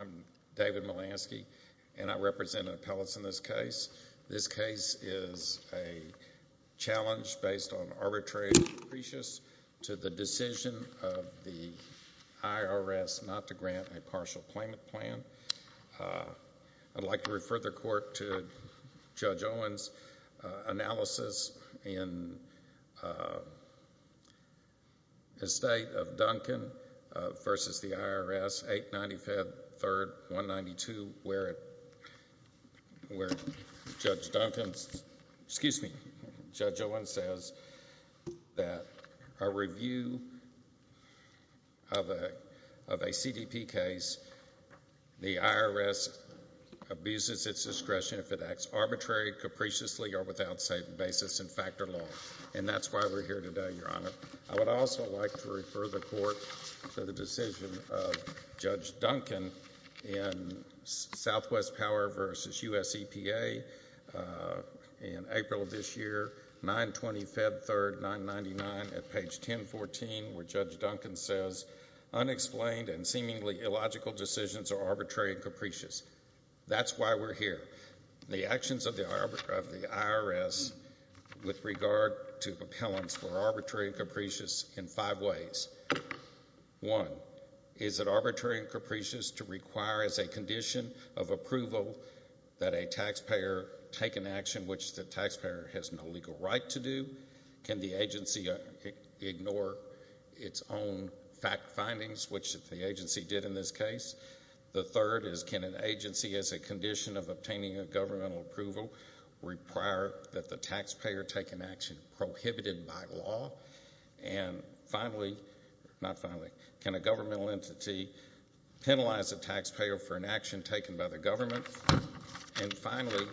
I'm David Melasky, and I represent appellates in this case. This case is a challenge based on arbitrary apprecious to the decision of the IRS not to grant a partial claimant plan. I'd like to refer the court to Judge Owen's analysis in the State of Duncan v. the IRS 895.3.192, where Judge Owen says that a review of a CDP case, the IRS abuses its discretion if it acts arbitrarily, capriciously, or without basis in factor law. And that's why we're here today, Your Honor. I would also like to refer the court to the decision of Judge Duncan in Southwest Power v. U.S. EPA in April of this year, 9-20, Feb. 3, 999, at page 1014, where Judge Duncan says, unexplained and seemingly illogical decisions are arbitrary and capricious. That's why we're here. The actions of the IRS with regard to appellants were arbitrary and capricious in five ways. One, is it arbitrary and capricious to require as a condition of approval that a taxpayer take an action which the taxpayer has no legal right to do? Can the agency ignore its own fact findings, which the agency did in this case? The third is, can an agency, as a condition of obtaining a governmental approval, require that the taxpayer take an action prohibited by law? And finally, not finally, can a governmental entity penalize a taxpayer for an action taken by the government? And finally,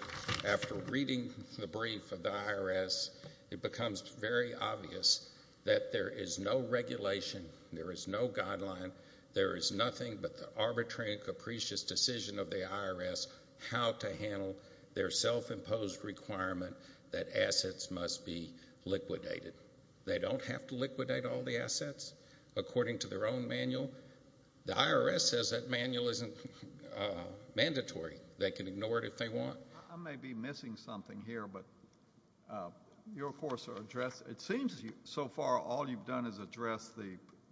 after reading the brief of the IRS, it becomes very obvious that there is no regulation, there is no guideline, there is nothing but the arbitrary and capricious decision of the IRS how to handle their self-imposed requirement that assets must be liquidated. They don't have to liquidate all the assets according to their own manual. The IRS says that manual isn't mandatory. They can ignore it if they want. I may be missing something here, but you, of course, are addressing, it seems so far all you've done is address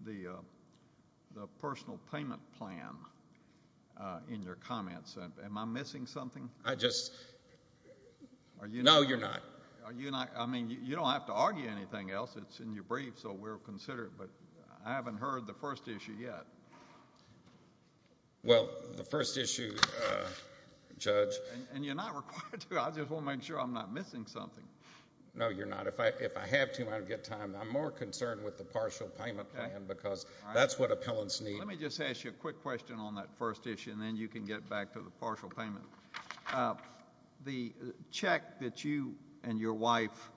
the personal payment plan in your comments. Am I missing something? I just, no, you're not. Are you not, I mean, you don't have to argue anything else. It's in your brief, so we'll consider it, but I haven't heard the first issue yet. Well, the first issue, Judge. And you're not required to. I just want to make sure I'm not missing something. No, you're not. If I have to, I don't get time. I'm more concerned with the partial payment plan because that's what appellants need. Let me just ask you a quick question on that first issue, and then you can get back to the partial payment. The check that you and your wife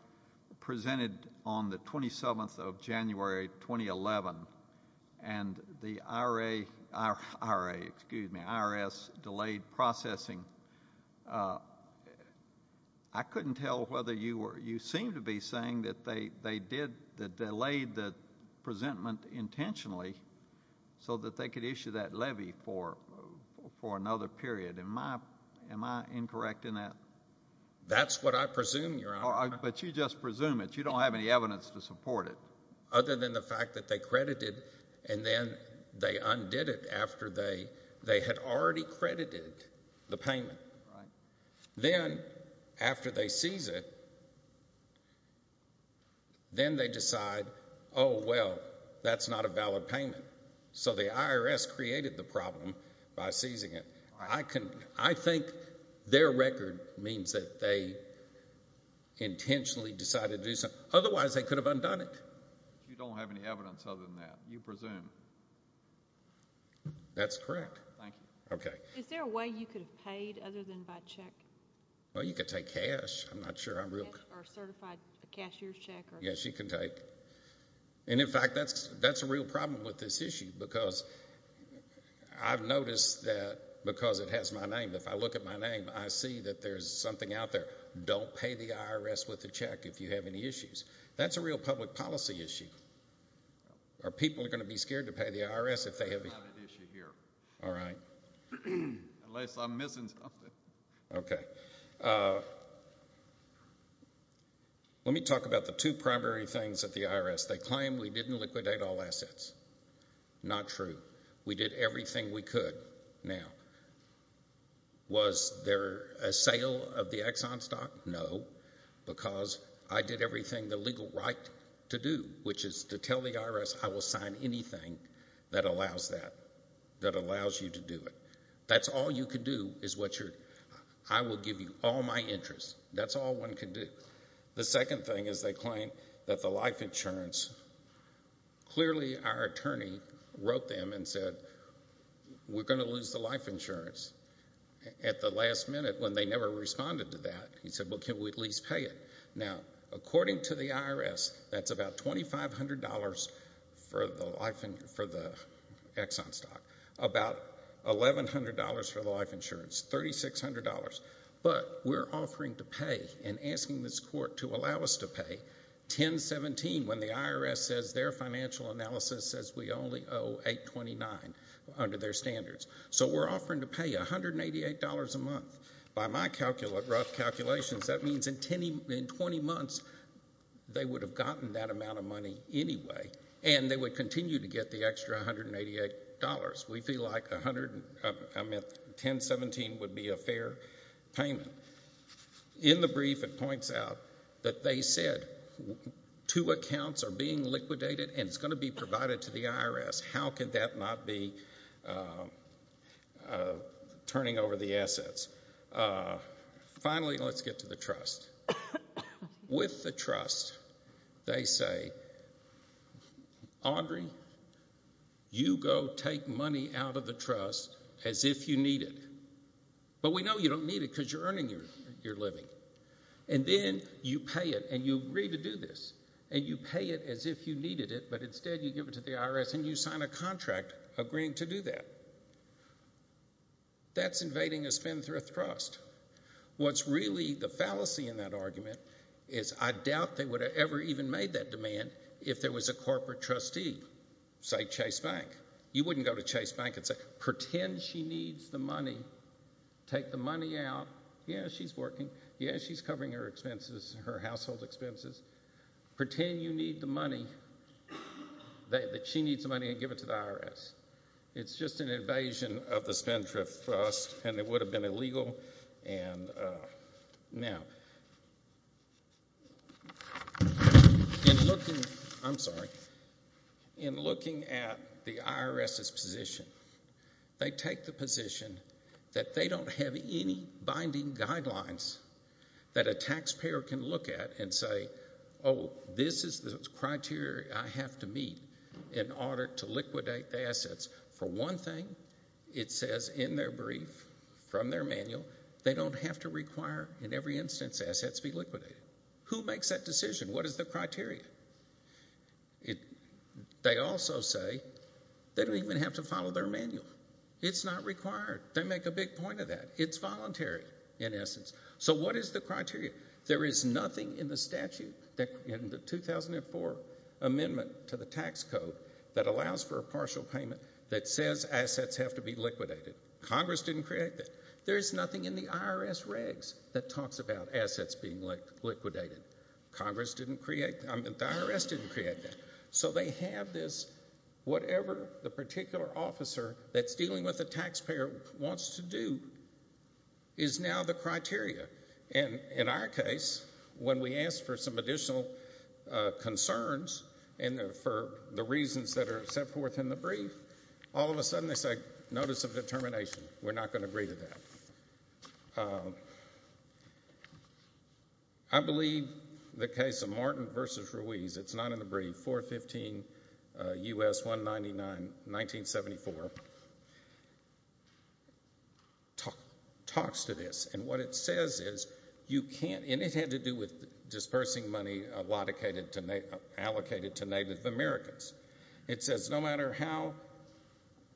presented on the 27th of January, 2011, and the IRA, excuse me, IRS delayed processing, I couldn't tell whether you were, you seem to be saying that they did, that they delayed the presentment intentionally so that they could issue that levy for another period. Am I incorrect in that? That's what I presume, Your Honor. But you just presume it. You don't have any evidence to support it. Other than the fact that they undid it after they had already credited the payment. Then, after they seize it, then they decide, oh, well, that's not a valid payment. So the IRS created the problem by seizing it. I think their record means that they intentionally decided to do something. You don't have any evidence other than that, you presume? That's correct. Thank you. Okay. Is there a way you could have paid other than by check? Well, you could take cash. I'm not sure I'm real... Or certified cashier's check? Yes, you can take. And in fact, that's a real problem with this issue because I've noticed that because it has my name, if I look at my name, I see that there's something out there. Don't pay the IRS with the check if you have any issues. That's a real public policy issue. Are people going to be scared to pay the IRS if they have a... I have an issue here. All right. Unless I'm missing something. Okay. Let me talk about the two primary things at the IRS. They claim we didn't liquidate all assets. Not true. We did everything we could. Now, was there a sale of the Exxon stock? No, because I did everything the legal right to do, which is to tell the IRS I will sign anything that allows that, that allows you to do it. That's all you could do is what you're... I will give you all my interest. That's all one could do. The second thing is they claim that the life insurance... Clearly, our attorney wrote them and said, we're going to lose the life insurance at the last minute when they never responded to that. He said, well, can't we at least pay it? Now, according to the IRS, that's about $2,500 for the Exxon stock, about $1,100 for the life insurance, $3,600, but we're offering to pay and asking this court to allow us to pay 1017 when the IRS says their financial analysis says we can't. So we're offering to pay $188 a month. By my rough calculations, that means in 20 months they would have gotten that amount of money anyway, and they would continue to get the extra $188. We feel like 1017 would be a fair payment. In the brief, it points out that they said two accounts are being liquidated and it's going to be provided to the IRS. How could that not be turning over the assets? Finally, let's get to the trust. With the trust, they say, Audrey, you go take money out of the trust as if you need it, but we know you don't need it because you're earning your living. Then you pay it and you agree to do this, and you pay it as if you needed it, but instead you give it to the IRS and you sign a contract agreeing to do that. That's invading a spendthrift trust. What's really the fallacy in that argument is I doubt they would have ever even made that demand if there was a corporate trustee, say Chase Bank. You wouldn't go to Chase Bank and say, pretend she needs the money. Take the money out. Yeah, she's working. Yeah, she's covering her expenses, her household expenses. Pretend you need the money. She needs the money and give it to the IRS. It's just an invasion of the spendthrift trust, and it would have been illegal. In looking at the IRS's position, they take the position that they don't have any binding guidelines that a taxpayer can look at and say, oh, this is the criteria I have to meet in order to liquidate the assets. For one thing, it says in their brief from their manual they don't have to require in every instance assets be liquidated. Who makes that decision? What is the criteria? They also say they don't even have to follow their manual. It's not in essence. So what is the criteria? There is nothing in the statute, in the 2004 amendment to the tax code that allows for a partial payment that says assets have to be liquidated. Congress didn't create that. There is nothing in the IRS regs that talks about assets being liquidated. Congress didn't create that. The IRS didn't create that. So they have this whatever the particular officer that's dealing with the taxpayer wants to do is now the criteria and in our case, when we ask for some additional concerns for the reasons that are set forth in the brief, all of a sudden they say notice of determination. We're not going to agree to that. I believe the case of Martin v. Ruiz, it's not in the brief, 415 U.S. 199, 1974, talks to this and what it says is you can't, and it had to do with dispersing money allocated to Native Americans. It says no matter how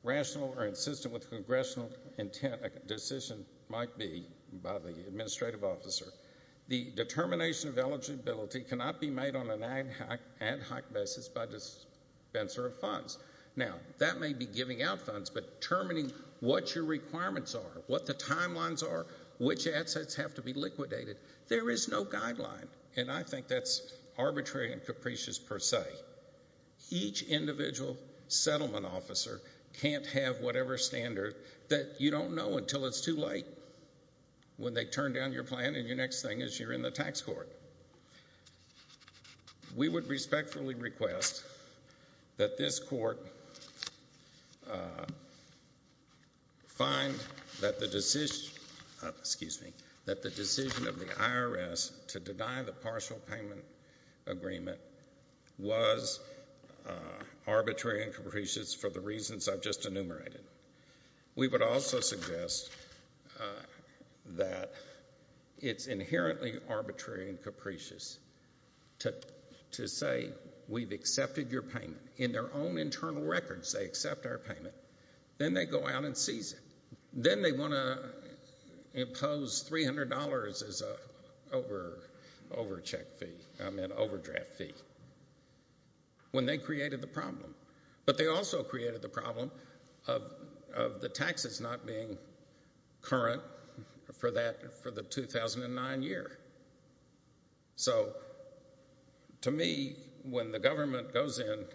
rational or insistent with congressional intent a decision might be by the administrative officer, the determination of eligibility cannot be made on an ad hoc basis by dispenser of funds. Now, that may be giving out funds, but determining what your requirements are, what the timelines are, which assets have to be liquidated, there is no guideline, and I think that's arbitrary and capricious per se. Each individual settlement officer can't have whatever standard that you don't know until it's too late when they turn down your plan and your next thing is you're in the tax court. We would respectfully request that this court find that the decision, excuse me, that the decision of the IRS to deny the partial payment agreement was arbitrary and capricious for the reasons I've just enumerated. We would also suggest that it's inherently arbitrary and capricious to say we've accepted your payment. In their own internal records they accept our payment, then they go out and seize it. Then they want to impose $300 as an overdraft fee when they created the problem. But they also created the problem of the taxes not being current for the 2009 year. So, to me, when the government goes in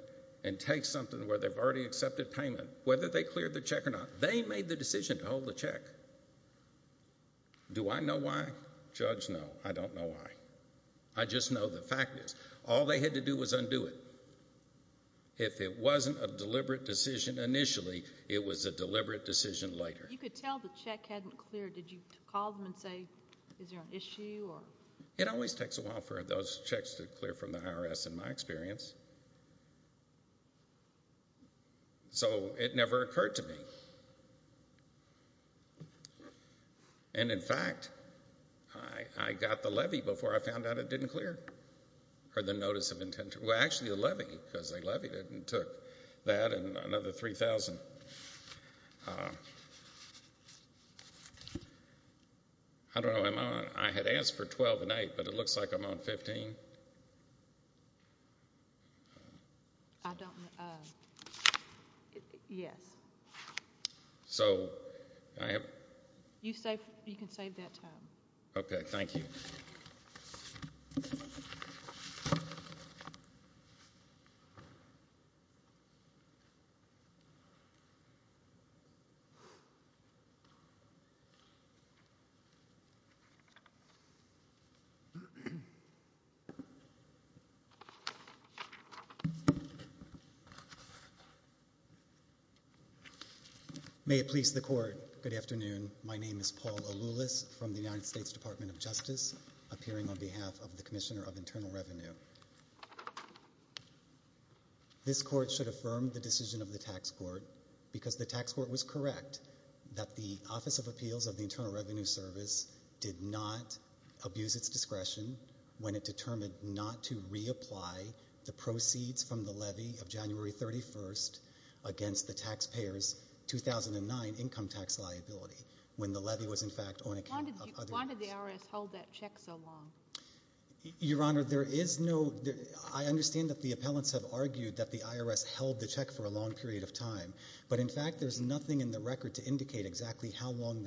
and takes something where they've already accepted payment, whether they cleared the check or not, they made the decision to hold the check. Do I know why? Judge, no, I don't know why. I just know the fact is all they had to do was undo it. If it wasn't a deliberate decision initially, it was a deliberate decision later. You could tell the check hadn't cleared. Did you call them and say, is there an issue? It always takes a while for those checks to clear from the IRS in my experience. So it never occurred to me. And in fact, I got the levy before I found out it didn't clear, or the notice of intent. Well, actually the levy because they levied it and took that and another $3,000. I don't know how long. I had asked for 12 a night, but it looks like I'm on 15. Yes. You can save that time. Okay, thank you. May it please the court. Good afternoon. My name is Paul Aloulis from the United States Court of Appeals. This court should affirm the decision of the tax court because the tax court was correct that the Office of Appeals of the Internal Revenue Service did not abuse its discretion when it determined not to reapply the proceeds from the levy of January 31st against the taxpayer's 2009 income tax liability when the levy was in fact on account of other interests. Why did the IRS hold that check so long? Your Honor, there is no, I understand that the appellants have argued that the IRS held the check for a long period of time, but in fact there's nothing in the record to indicate exactly how long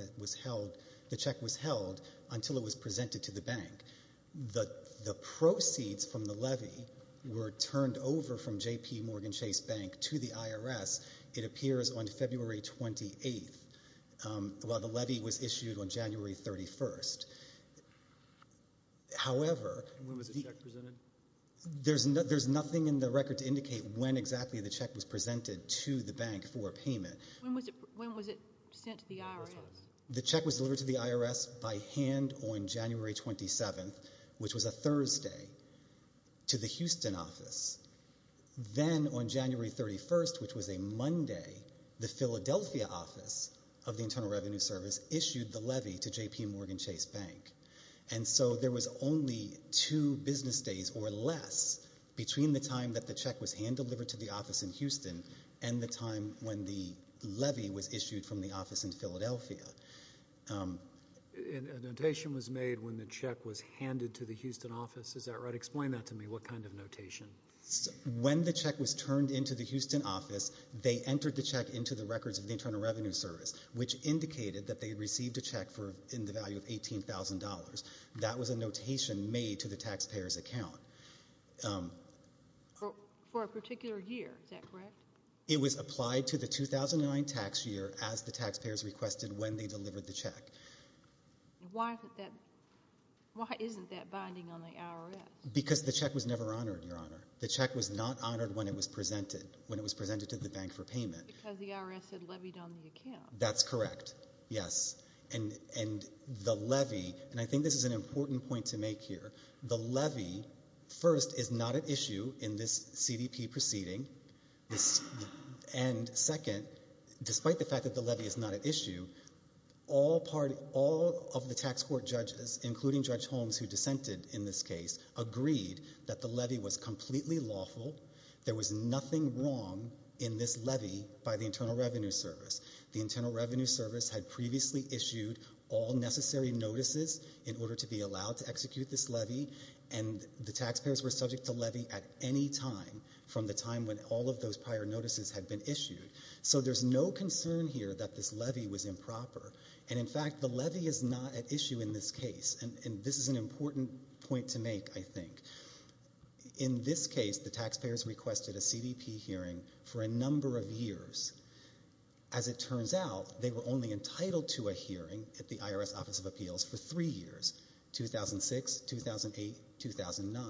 the check was held until it was presented to the bank. The proceeds from the levy were turned over from JPMorgan Chase Bank to the IRS, it appears, on February 28th, while the levy was issued on January 31st. However, there's nothing in the record to indicate when exactly the check was presented to the bank for payment. When was it sent to the IRS? The check was delivered to the IRS by hand on January 27th, which was a Thursday, to the Houston office. Then on January 31st, which was a Monday, the Philadelphia office of the Internal Revenue Service issued the levy to JPMorgan Chase Bank. So there was only two business days or less between the time that the check was hand-delivered to the office in Houston and the time when the levy was issued from the office in Philadelphia. A notation was made when the check was handed to the Houston office, is that right? Explain that to me, what kind of notation? When the check was turned into the Houston office, they entered the check into the records of the Internal Revenue Service, which indicated that they had received a check in the value of $18,000. That was a notation made to the taxpayer's account. For a particular year, is that correct? It was applied to the 2009 tax year as the taxpayers requested when they delivered the check. Why isn't that binding on the IRS? Because the check was never honored, Your Honor. The check was not honored when it was presented to the bank for payment. Because the IRS had levied on the account. That's correct, yes. And the levy, and I think this is an important point to make here, the levy, first, is not at issue in this CDP proceeding, and second, despite the fact that the levy is not at issue, all of the tax court judges, including Judge Holmes, who dissented in this case, found nothing wrong in this levy by the Internal Revenue Service. The Internal Revenue Service had previously issued all necessary notices in order to be allowed to execute this levy, and the taxpayers were subject to levy at any time from the time when all of those prior notices had been issued. So there's no concern here that this levy was improper. And in fact, the levy is not at issue in this case, and this is an important point to make, I think. In this case, the taxpayers requested a CDP hearing for a number of years. As it turns out, they were only entitled to a hearing at the IRS Office of Appeals for three years, 2006, 2008, 2009,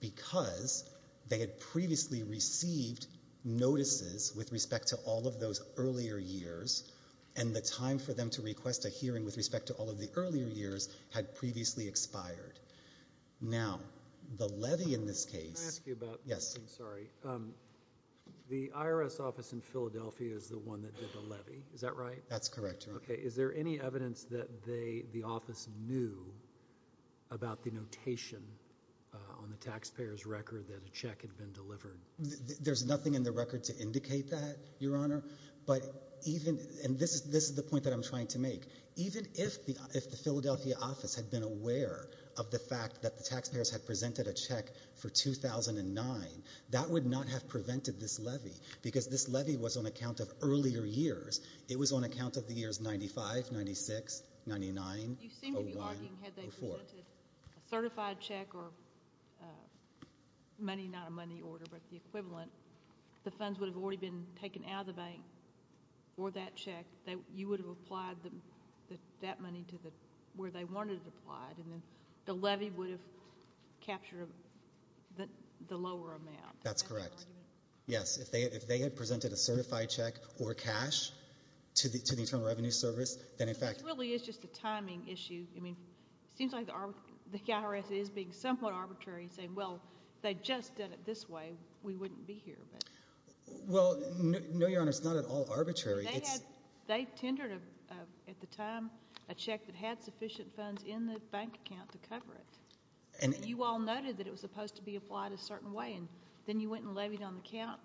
because they had previously received notices with respect to all of those earlier years, and the time for them to request a hearing with respect to all of the earlier years had previously expired. Now, the levy in this case— Can I ask you about— Yes. I'm sorry. The IRS office in Philadelphia is the one that did the levy, is that right? That's correct, Your Honor. Okay. Is there any evidence that the office knew about the notation on the taxpayer's record that a check had been delivered? There's nothing in the record to indicate that, Your Honor. But even—and this is the point that I'm trying to make—even if the Philadelphia office had been aware of the fact that the taxpayers had presented a check for 2009, that would not have prevented this levy, because this levy was on account of earlier years. It was on account of the years 95, 96, 99, 01, 04. You seem to be arguing, had they presented a certified check or money—not a money order, but the equivalent—the funds would have already been taken out of the bank for that check, you would have applied that money to where they wanted it applied, and the levy would have captured the lower amount. That's correct. Yes. If they had presented a certified check or cash to the Internal Revenue Service, then in fact— This really is just a timing issue. I mean, it seems like the IRS is being somewhat arbitrary and saying, well, if they'd just done it this way, we wouldn't be here. Well, no, Your Honor, it's not at all arbitrary. They tendered, at the time, a check that had sufficient funds in the bank account to cover it. You all noted that it was supposed to be applied a certain way, and then you went and levied on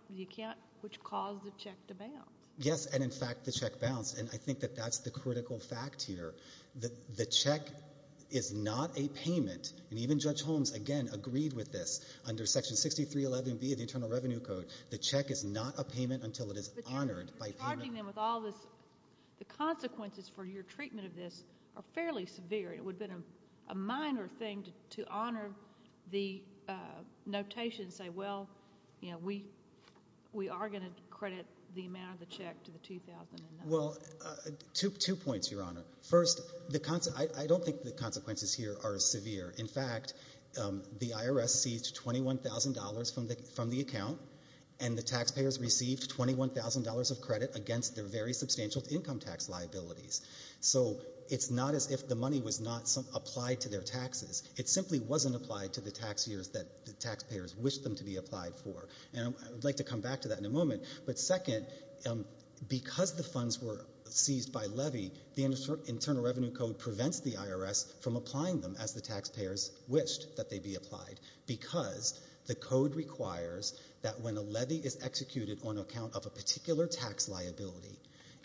the account, which caused the check to bounce. Yes, and in fact, the check bounced, and I think that that's the critical fact here. The check is not a payment, and even Judge Holmes, again, agreed with this under Section 6311B of the Internal Revenue Code. The check is not a payment until it is honored by payment— But you're charging them with all this. The consequences for your treatment of this are fairly severe. It would have been a minor thing to honor the notation and say, well, we are going to credit the amount of the check to the 2009— Well, two points, Your Honor. First, I don't think the consequences here are severe. In fact, the IRS seized $21,000 from the account, and the taxpayers received $21,000 of credit against their very substantial income tax liabilities. So it's not as if the money was not applied to their taxes. It simply wasn't applied to the tax years that the taxpayers wished them to be applied for, and I would like to come back to that in a moment. But second, because the funds were seized by levy, the Internal Revenue Code prevents the IRS from applying them as the taxpayers wished that they be applied, because the code requires that when a levy is executed on account of a particular tax liability,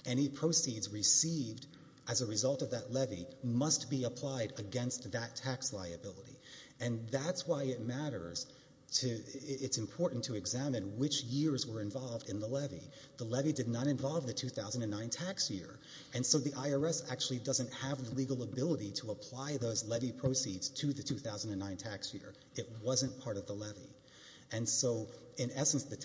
any proceeds received as a result of that levy must be applied against that tax liability. And that's why it matters to—it's important to examine which years were involved in the levy. The legal ability to apply those levy proceeds to the 2009 tax year, it wasn't part of the levy. And so, in essence, the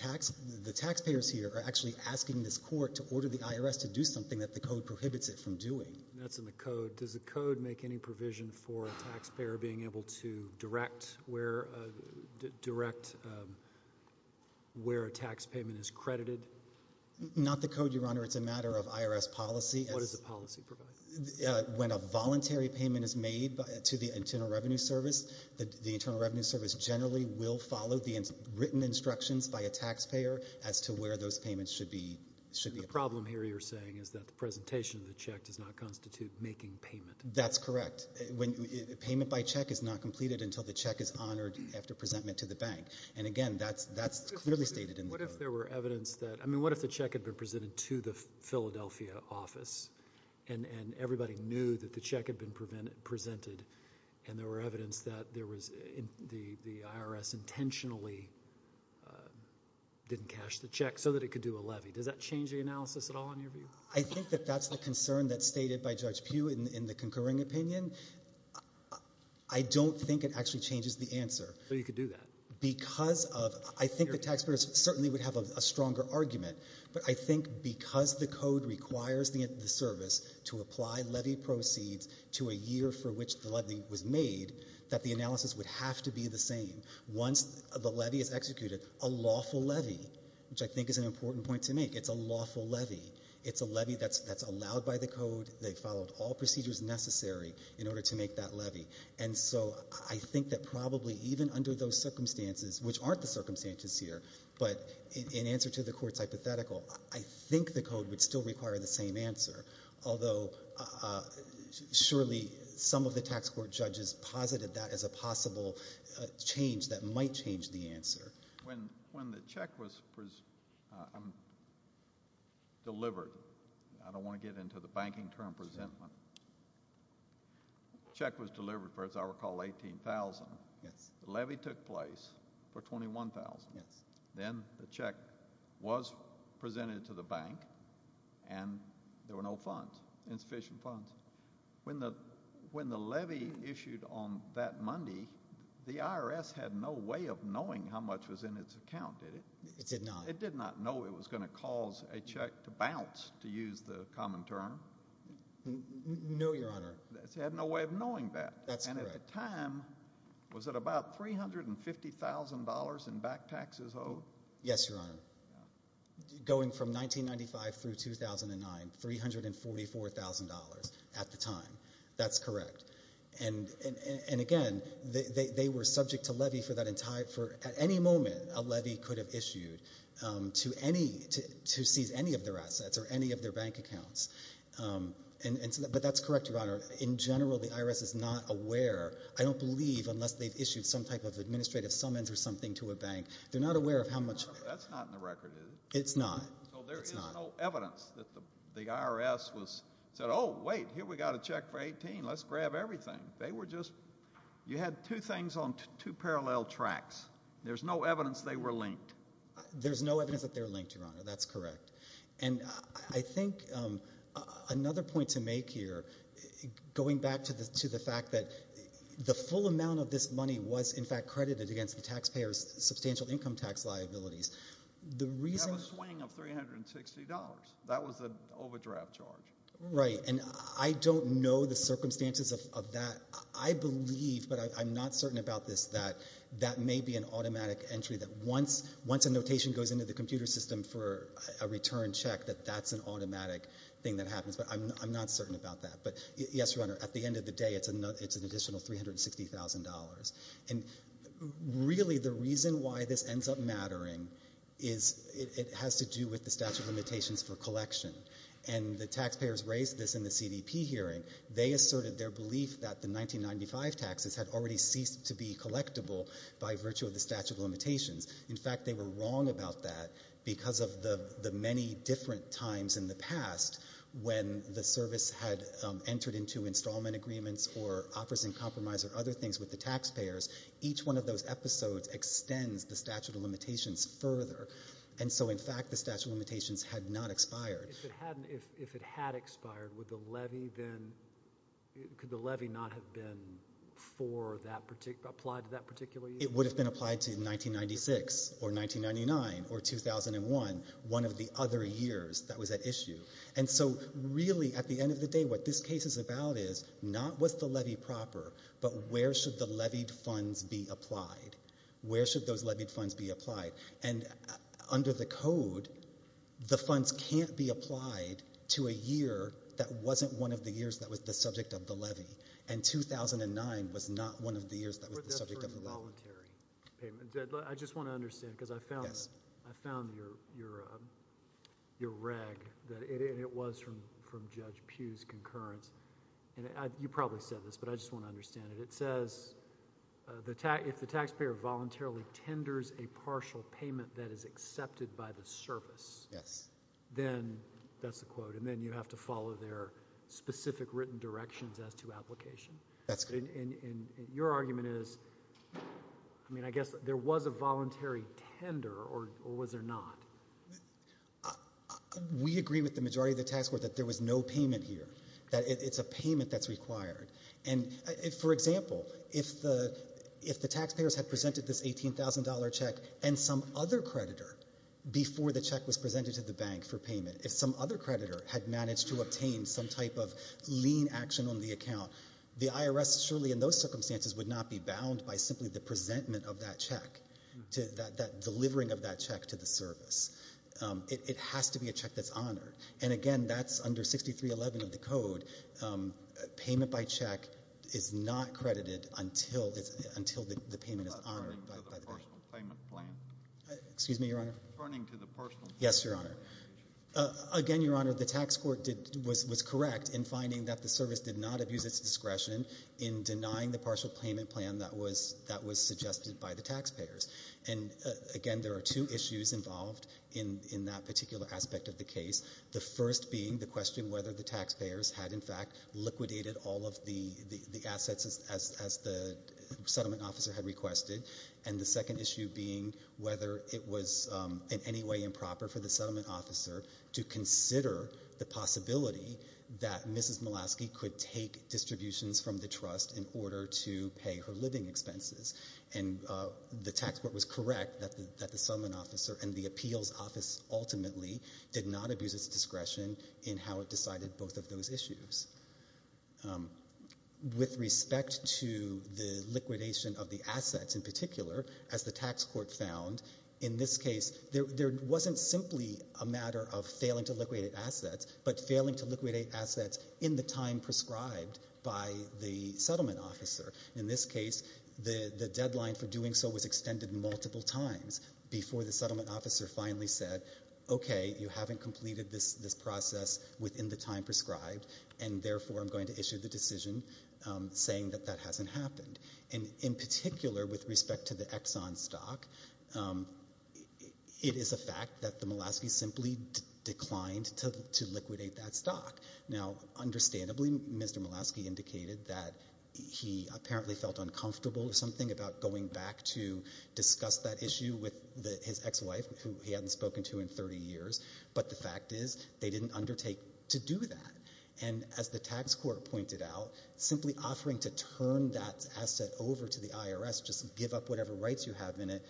taxpayers here are actually asking this court to order the IRS to do something that the code prohibits it from doing. And that's in the code. Does the code make any provision for a taxpayer being able to direct where a tax payment is credited? Not the code, Your Honor. It's a matter of IRS policy. What does the policy provide? When a voluntary payment is made to the Internal Revenue Service, the Internal Revenue Service generally will follow the written instructions by a taxpayer as to where those payments should be— The problem here, you're saying, is that the presentation of the check does not constitute making payment. That's correct. Payment by check is not completed until the check is honored after presentment to the bank. And again, that's clearly stated in the code. What if there were evidence that—I mean, what if the check had been presented to the bank, and everybody knew that the check had been presented, and there were evidence that the IRS intentionally didn't cash the check so that it could do a levy? Does that change the analysis at all, in your view? I think that that's the concern that's stated by Judge Pugh in the concurring opinion. I don't think it actually changes the answer. But you could do that. Because of—I think the taxpayers certainly would have a stronger argument. But I think because the code requires the service to apply levy proceeds to a year for which the levy was made, that the analysis would have to be the same. Once the levy is executed, a lawful levy, which I think is an important point to make, it's a lawful levy. It's a levy that's allowed by the code. They followed all procedures necessary in order to make that levy. And so I think that probably even under those circumstances, which aren't the circumstances this year, but in answer to the Court's hypothetical, I think the code would still require the same answer, although surely some of the tax court judges posited that as a possible change that might change the answer. When the check was delivered—I don't want to get into the banking term, presentment—the levy took place for $21,000. Then the check was presented to the bank, and there were no funds, insufficient funds. When the levy issued on that Monday, the IRS had no way of knowing how much was in its account, did it? It did not. It did not know it was going to cause a check to bounce, to use the common term. No, Your Honor. It had no way of knowing that. That's correct. At the time, was it about $350,000 in back taxes owed? Yes, Your Honor. Going from 1995 through 2009, $344,000 at the time. That's correct. And again, they were subject to levy for that entire—at any moment, a levy could have issued to seize any of their assets or any of their bank accounts. But that's correct, Your Honor. In general, the IRS is not aware—I don't believe, unless they've issued some type of administrative summons or something to a bank—they're not aware of how much— That's not in the record, is it? It's not. So there is no evidence that the IRS said, oh, wait, here we got a check for $18,000. Let's grab everything. They were just—you had two things on two parallel tracks. There's no evidence they were linked. There's no evidence that they're linked, Your Honor. That's correct. And I think another point to make here, going back to the fact that the full amount of this money was, in fact, credited against the taxpayers' substantial income tax liabilities, the reason— You have a swing of $360. That was the overdraft charge. Right. And I don't know the circumstances of that. I believe, but I'm not certain about this, that that may be an automatic entry that once a notation goes into the computer system for a return check, that that's an automatic thing that happens. But I'm not certain about that. But, yes, Your Honor, at the end of the day, it's an additional $360,000. And really the reason why this ends up mattering is it has to do with the statute of limitations for collection. And the taxpayers raised this in the CDP hearing. They asserted their belief that the 1995 taxes had already ceased to be collectible by virtue of the statute of limitations. Because of the many different times in the past when the service had entered into installment agreements or offers in compromise or other things with the taxpayers, each one of those episodes extends the statute of limitations further. And so, in fact, the statute of limitations had not expired. If it hadn't, if it had expired, would the levy then—could the levy not have been for that particular—applied to that particular year? It would have been applied to 1996 or 1999 or 2001, one of the other years that was at issue. And so, really, at the end of the day, what this case is about is, not was the levy proper, but where should the levied funds be applied? Where should those levied funds be applied? And under the Code, the funds can't be applied to a year that wasn't one of the years that was the subject of the levy. And 2009 was not one of the years that was the subject of the levy. I just want to understand, because I found your reg, and it was from Judge Pugh's concurrence—and you probably said this, but I just want to understand it. It says, if the taxpayer voluntarily tenders a partial payment that is accepted by the service, then—that's the quote—and then you have to follow their specific written directions as to application. That's correct. And your argument is, I mean, I guess there was a voluntary tender, or was there not? We agree with the majority of the tax court that there was no payment here, that it's a payment that's required. And, for example, if the taxpayers had presented this $18,000 check, and some other creditor, before the check was presented to the bank for payment, if some other creditor had managed to obtain some type of lien action on the account, the IRS, surely in those circumstances, would not be bound by simply the presentment of that check, that delivering of that check to the service. It has to be a check that's honored. And, again, that's under 6311 of the Code. Payment by check is not credited until the payment is honored by the bank. Referring to the personal payment plan? Excuse me, Your Honor? Referring to the personal payment plan? Yes, Your Honor. Again, Your Honor, the tax court was correct in finding that the service did not abuse its discretion in denying the partial payment plan that was suggested by the taxpayers. And, again, there are two issues involved in that particular aspect of the case, the first being the question whether the taxpayers had, in fact, liquidated all of the assets as the settlement officer had requested, and the second issue being whether it was in any way improper for the settlement officer to consider the possibility that Mrs. Payne would take distributions from the trust in order to pay her living expenses. And the tax court was correct that the settlement officer and the appeals office ultimately did not abuse its discretion in how it decided both of those issues. With respect to the liquidation of the assets in particular, as the tax court found, in this case, there wasn't simply a matter of failing to liquidate assets, but failing to be prescribed by the settlement officer. In this case, the deadline for doing so was extended multiple times before the settlement officer finally said, okay, you haven't completed this process within the time prescribed, and, therefore, I'm going to issue the decision saying that that hasn't happened. And, in particular, with respect to the Exxon stock, it is a fact that the Mulaski simply declined to liquidate that stock. Now, understandably, Mr. Mulaski indicated that he apparently felt uncomfortable or something about going back to discuss that issue with his ex-wife, who he hadn't spoken to in 30 years, but the fact is they didn't undertake to do that. And, as the tax court pointed out, simply offering to turn that asset over to the IRS, just give up whatever rights you have in it,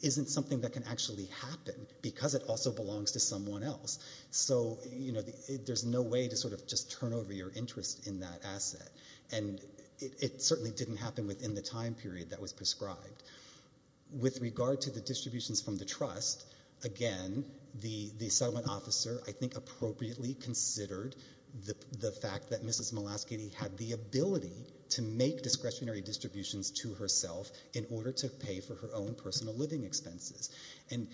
isn't something that can actually happen, because it also belongs to someone else. So, you know, there's no way to sort of just turn over your interest in that asset. And it certainly didn't happen within the time period that was prescribed. With regard to the distributions from the trust, again, the settlement officer, I think, appropriately considered the fact that Mrs. Mulaski had the ability to make discretionary distributions to herself in order to pay for her own personal living expenses. And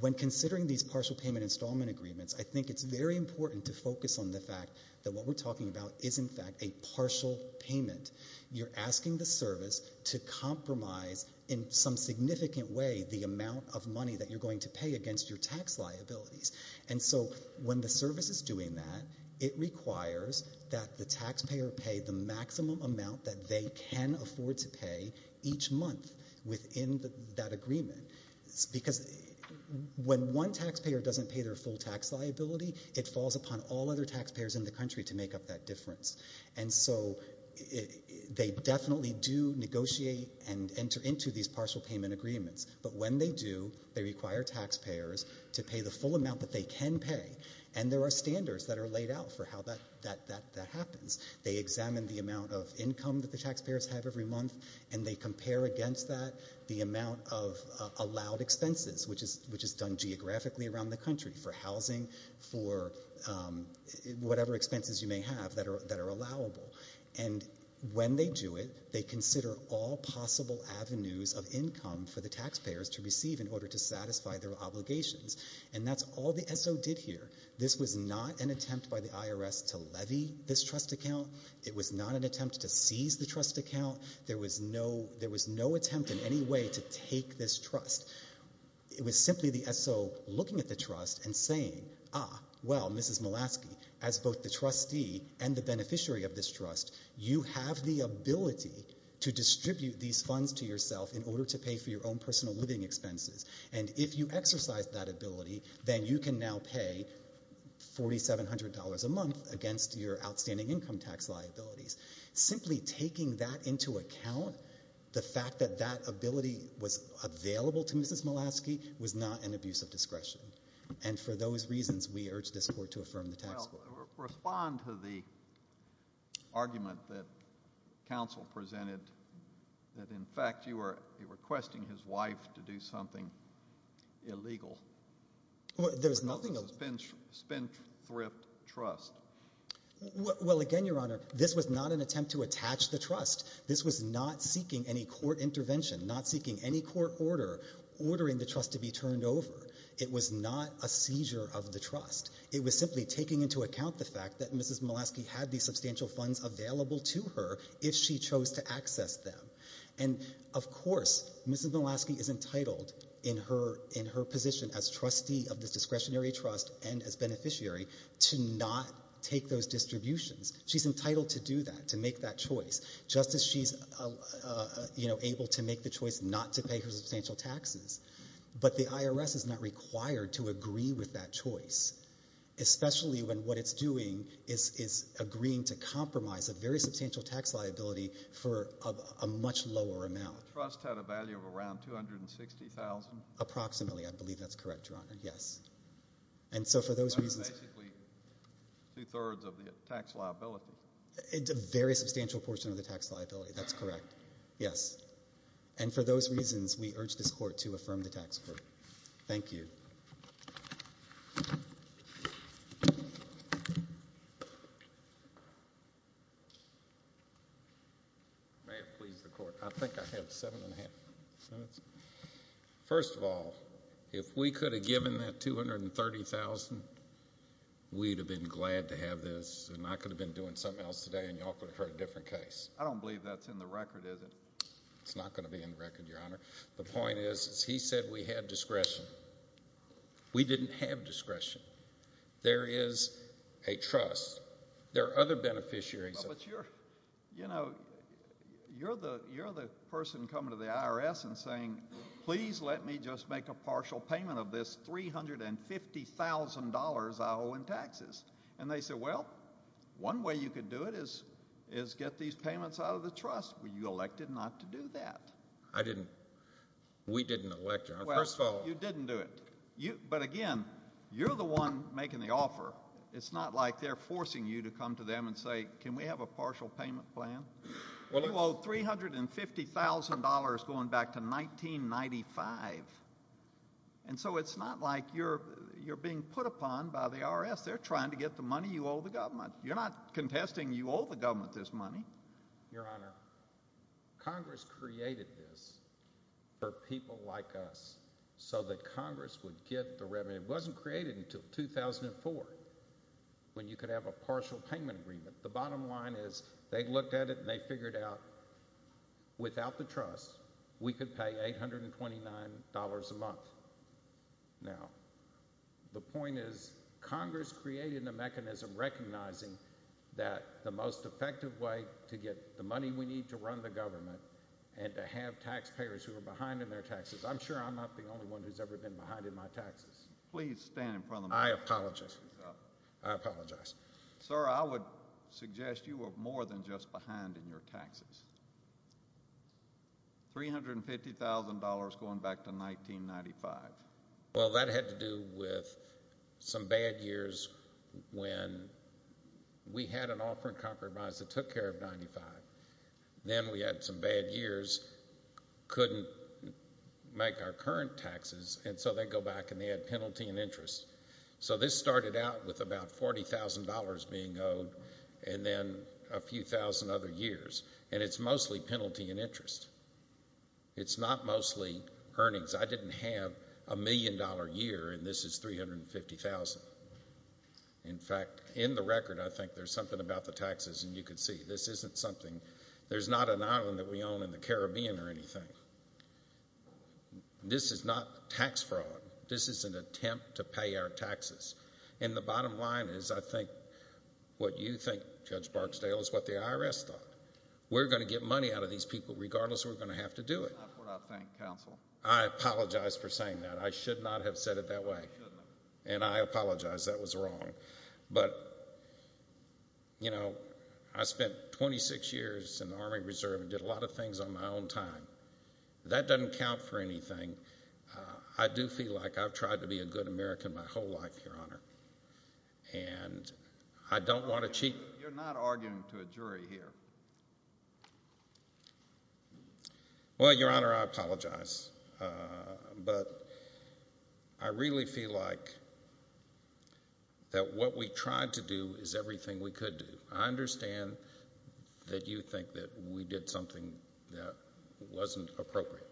when considering these partial payment installment agreements, I think it's very important to focus on the fact that what we're talking about is, in fact, a partial payment. You're asking the service to compromise, in some significant way, the amount of money that you're going to pay against your tax liabilities. And so when the service is doing that, it requires that the taxpayer pay the maximum amount that they can afford to pay each month within that period. If the taxpayer doesn't pay their full tax liability, it falls upon all other taxpayers in the country to make up that difference. And so they definitely do negotiate and enter into these partial payment agreements. But when they do, they require taxpayers to pay the full amount that they can pay. And there are standards that are laid out for how that happens. They examine the amount of income that the taxpayers have every month, and they compare against that the amount of allowed expenses, which is done geographically around the country for housing, for whatever expenses you may have that are allowable. And when they do it, they consider all possible avenues of income for the taxpayers to receive in order to satisfy their obligations. And that's all the SO did here. This was not an attempt by the IRS to levy this trust account. It was not an attempt to seize the trust account. There was no attempt in any way to take this trust. It was simply the SO looking at the trust and saying, ah, well, Mrs. Mulaski, as both the trustee and the beneficiary of this trust, you have the ability to distribute these funds to yourself in order to pay for your own personal living expenses. And if you exercise that ability, then you can now pay $4,700 a month against your outstanding income tax liabilities. Simply taking that into account, the fact that that ability was available to Mrs. Mulaski was not an abuse of discretion. And for those reasons, we urge this court to affirm the tax code. Respond to the argument that counsel presented that, in fact, you were requesting his wife to do something illegal. Well, there's nothing of it. A spin-thrift trust. Well, again, Your Honor, this was not an attempt to attach the trust. This was not seeking any court intervention, not seeking any court order, ordering the trust to be turned over. It was not a seizure of the trust. It was simply taking into account the fact that Mrs. Mulaski had these substantial funds available to her if she chose to access them. And, of course, Mrs. Mulaski is entitled in her position as trustee of this discretionary trust and as beneficiary to not take those distributions. She's entitled to do that, to make that choice. Just as she's able to make the choice not to pay her substantial taxes. But the IRS is not required to agree with that choice, especially when what it's doing is agreeing to compromise a very substantial tax liability for a much lower amount. The trust had a value of around $260,000. Approximately. I believe that's correct, Your Honor. Yes. And so for those reasons— That's basically two-thirds of the tax liability. It's a very substantial portion of the tax liability. That's correct. Yes. And for those reasons, we urge this Court to affirm the tax court. Thank you. May it please the Court. I think I have seven and a half minutes. First of all, if we could have given that $230,000, we'd have been glad to have this case, and I could have been doing something else today, and y'all could have heard a different case. I don't believe that's in the record, is it? It's not going to be in the record, Your Honor. The point is, he said we had discretion. We didn't have discretion. There is a trust. There are other beneficiaries— But you're, you know, you're the person coming to the IRS and saying, please let me just make a partial payment of this $350,000 I owe in taxes. And they say, well, one way you could do it is get these payments out of the trust. Well, you elected not to do that. I didn't. We didn't elect, Your Honor. First of all— Well, you didn't do it. But again, you're the one making the offer. It's not like they're forcing you to come to them and say, can we have a partial payment plan? You owe $350,000 going back to 1995. And so it's not like you're being put upon by the IRS. They're trying to get the money you owe the government. You're not contesting you owe the government this money. Your Honor, Congress created this for people like us so that Congress would get the revenue. It wasn't created until 2004 when you could have a partial payment agreement. The bottom line is they looked at it and they figured out, without the trust, we could pay $829 a month. Now, the point is Congress created the mechanism recognizing that the most effective way to get the money we need to run the government and to have taxpayers who are behind in their taxes— I'm sure I'm not the only one who's ever been behind in my taxes. Please stand in front of the microphone. I apologize. I apologize. Sir, I would suggest you were more than just behind in your taxes. $350,000 going back to 1995. Well, that had to do with some bad years when we had an offer in compromise that took care of 1995. Then we had some bad years, couldn't make our current taxes, and so they go back and they add penalty and interest. So this started out with about $40,000 being owed and then a few thousand other years, and it's mostly penalty and interest. It's not mostly earnings. I didn't have a million-dollar year and this is $350,000. In fact, in the record, I think there's something about the taxes, and you can see. This isn't something—there's not an island that we own in the Caribbean or anything. This is not tax fraud. This is an attempt to pay our taxes. And the bottom line is I think what you think, Judge Barksdale, is what the IRS thought. We're going to get money out of these people regardless we're going to have to do it. That's not what I think, counsel. I apologize for saying that. I should not have said it that way. You shouldn't have. And I apologize. That was wrong. But, you know, I spent 26 years in the Army Reserve and did a lot of things on my own time. That doesn't count for anything. I do feel like I've tried to be a good American my whole life, Your Honor. And I don't want to cheat— You're not arguing to a jury here. Well, Your Honor, I apologize. But I really feel like that what we tried to do is everything we could do. I understand that you think that we did something that wasn't appropriate.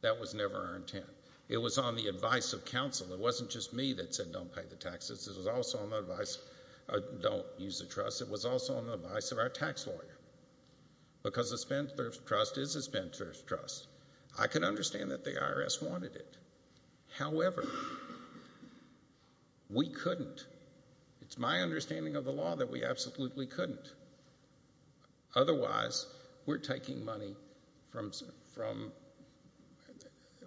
That was never our intent. It was on the advice of counsel. It wasn't just me that said don't pay the taxes. It was also on the advice—don't use the trust. It was also on the advice of our tax lawyer. Because a spendthrift's trust is a spendthrift's trust. I can understand that the IRS wanted it. However, we couldn't. It's my understanding of the law that we absolutely couldn't. Otherwise, we're taking money from—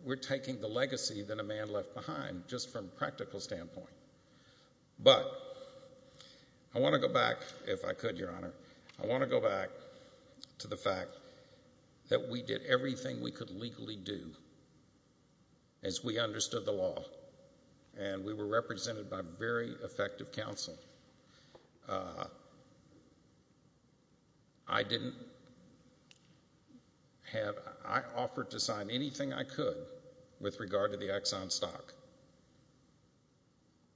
We're taking the legacy that a man left behind just from a practical standpoint. But I want to go back, if I could, Your Honor. I want to go back to the fact that we did everything we could legally do as we understood the law. And we were represented by very effective counsel. I didn't have—I offered to sign anything I could with regard to the Exxon stock.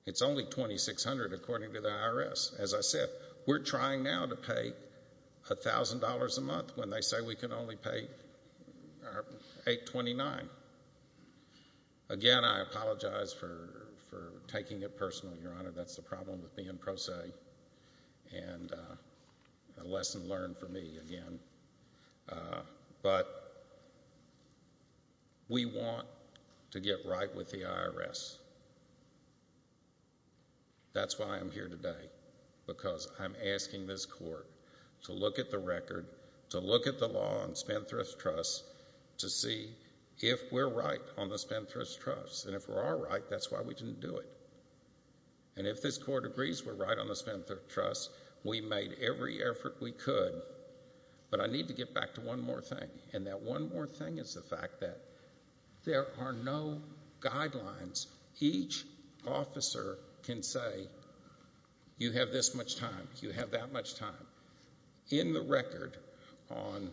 It's only $2,600 according to the IRS. As I said, we're trying now to pay $1,000 a month when they say we can only pay $829. Again, I apologize for taking it personally, Your Honor. That's the problem with being pro se. And a lesson learned for me again. But we want to get right with the IRS. That's why I'm here today. Because I'm asking this Court to look at the record, to look at the law on spendthrift's trusts, to see if we're right on the spendthrift's trust. And if we are right, that's why we didn't do it. And if this Court agrees we're right on the spendthrift's trust, we made every effort we could. But I need to get back to one more thing. And that one more thing is the fact that there are no guidelines. Each officer can say, you have this much time, you have that much time. In the record on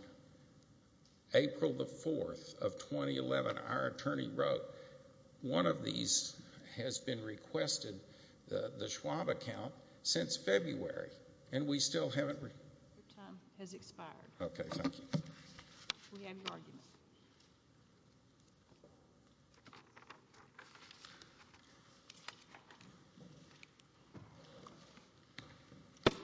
April the 4th of 2011, our attorney wrote, one of these has been requested, the Schwab account, since February. And we still haven't... Your time has expired. Okay, thank you. We have your argument.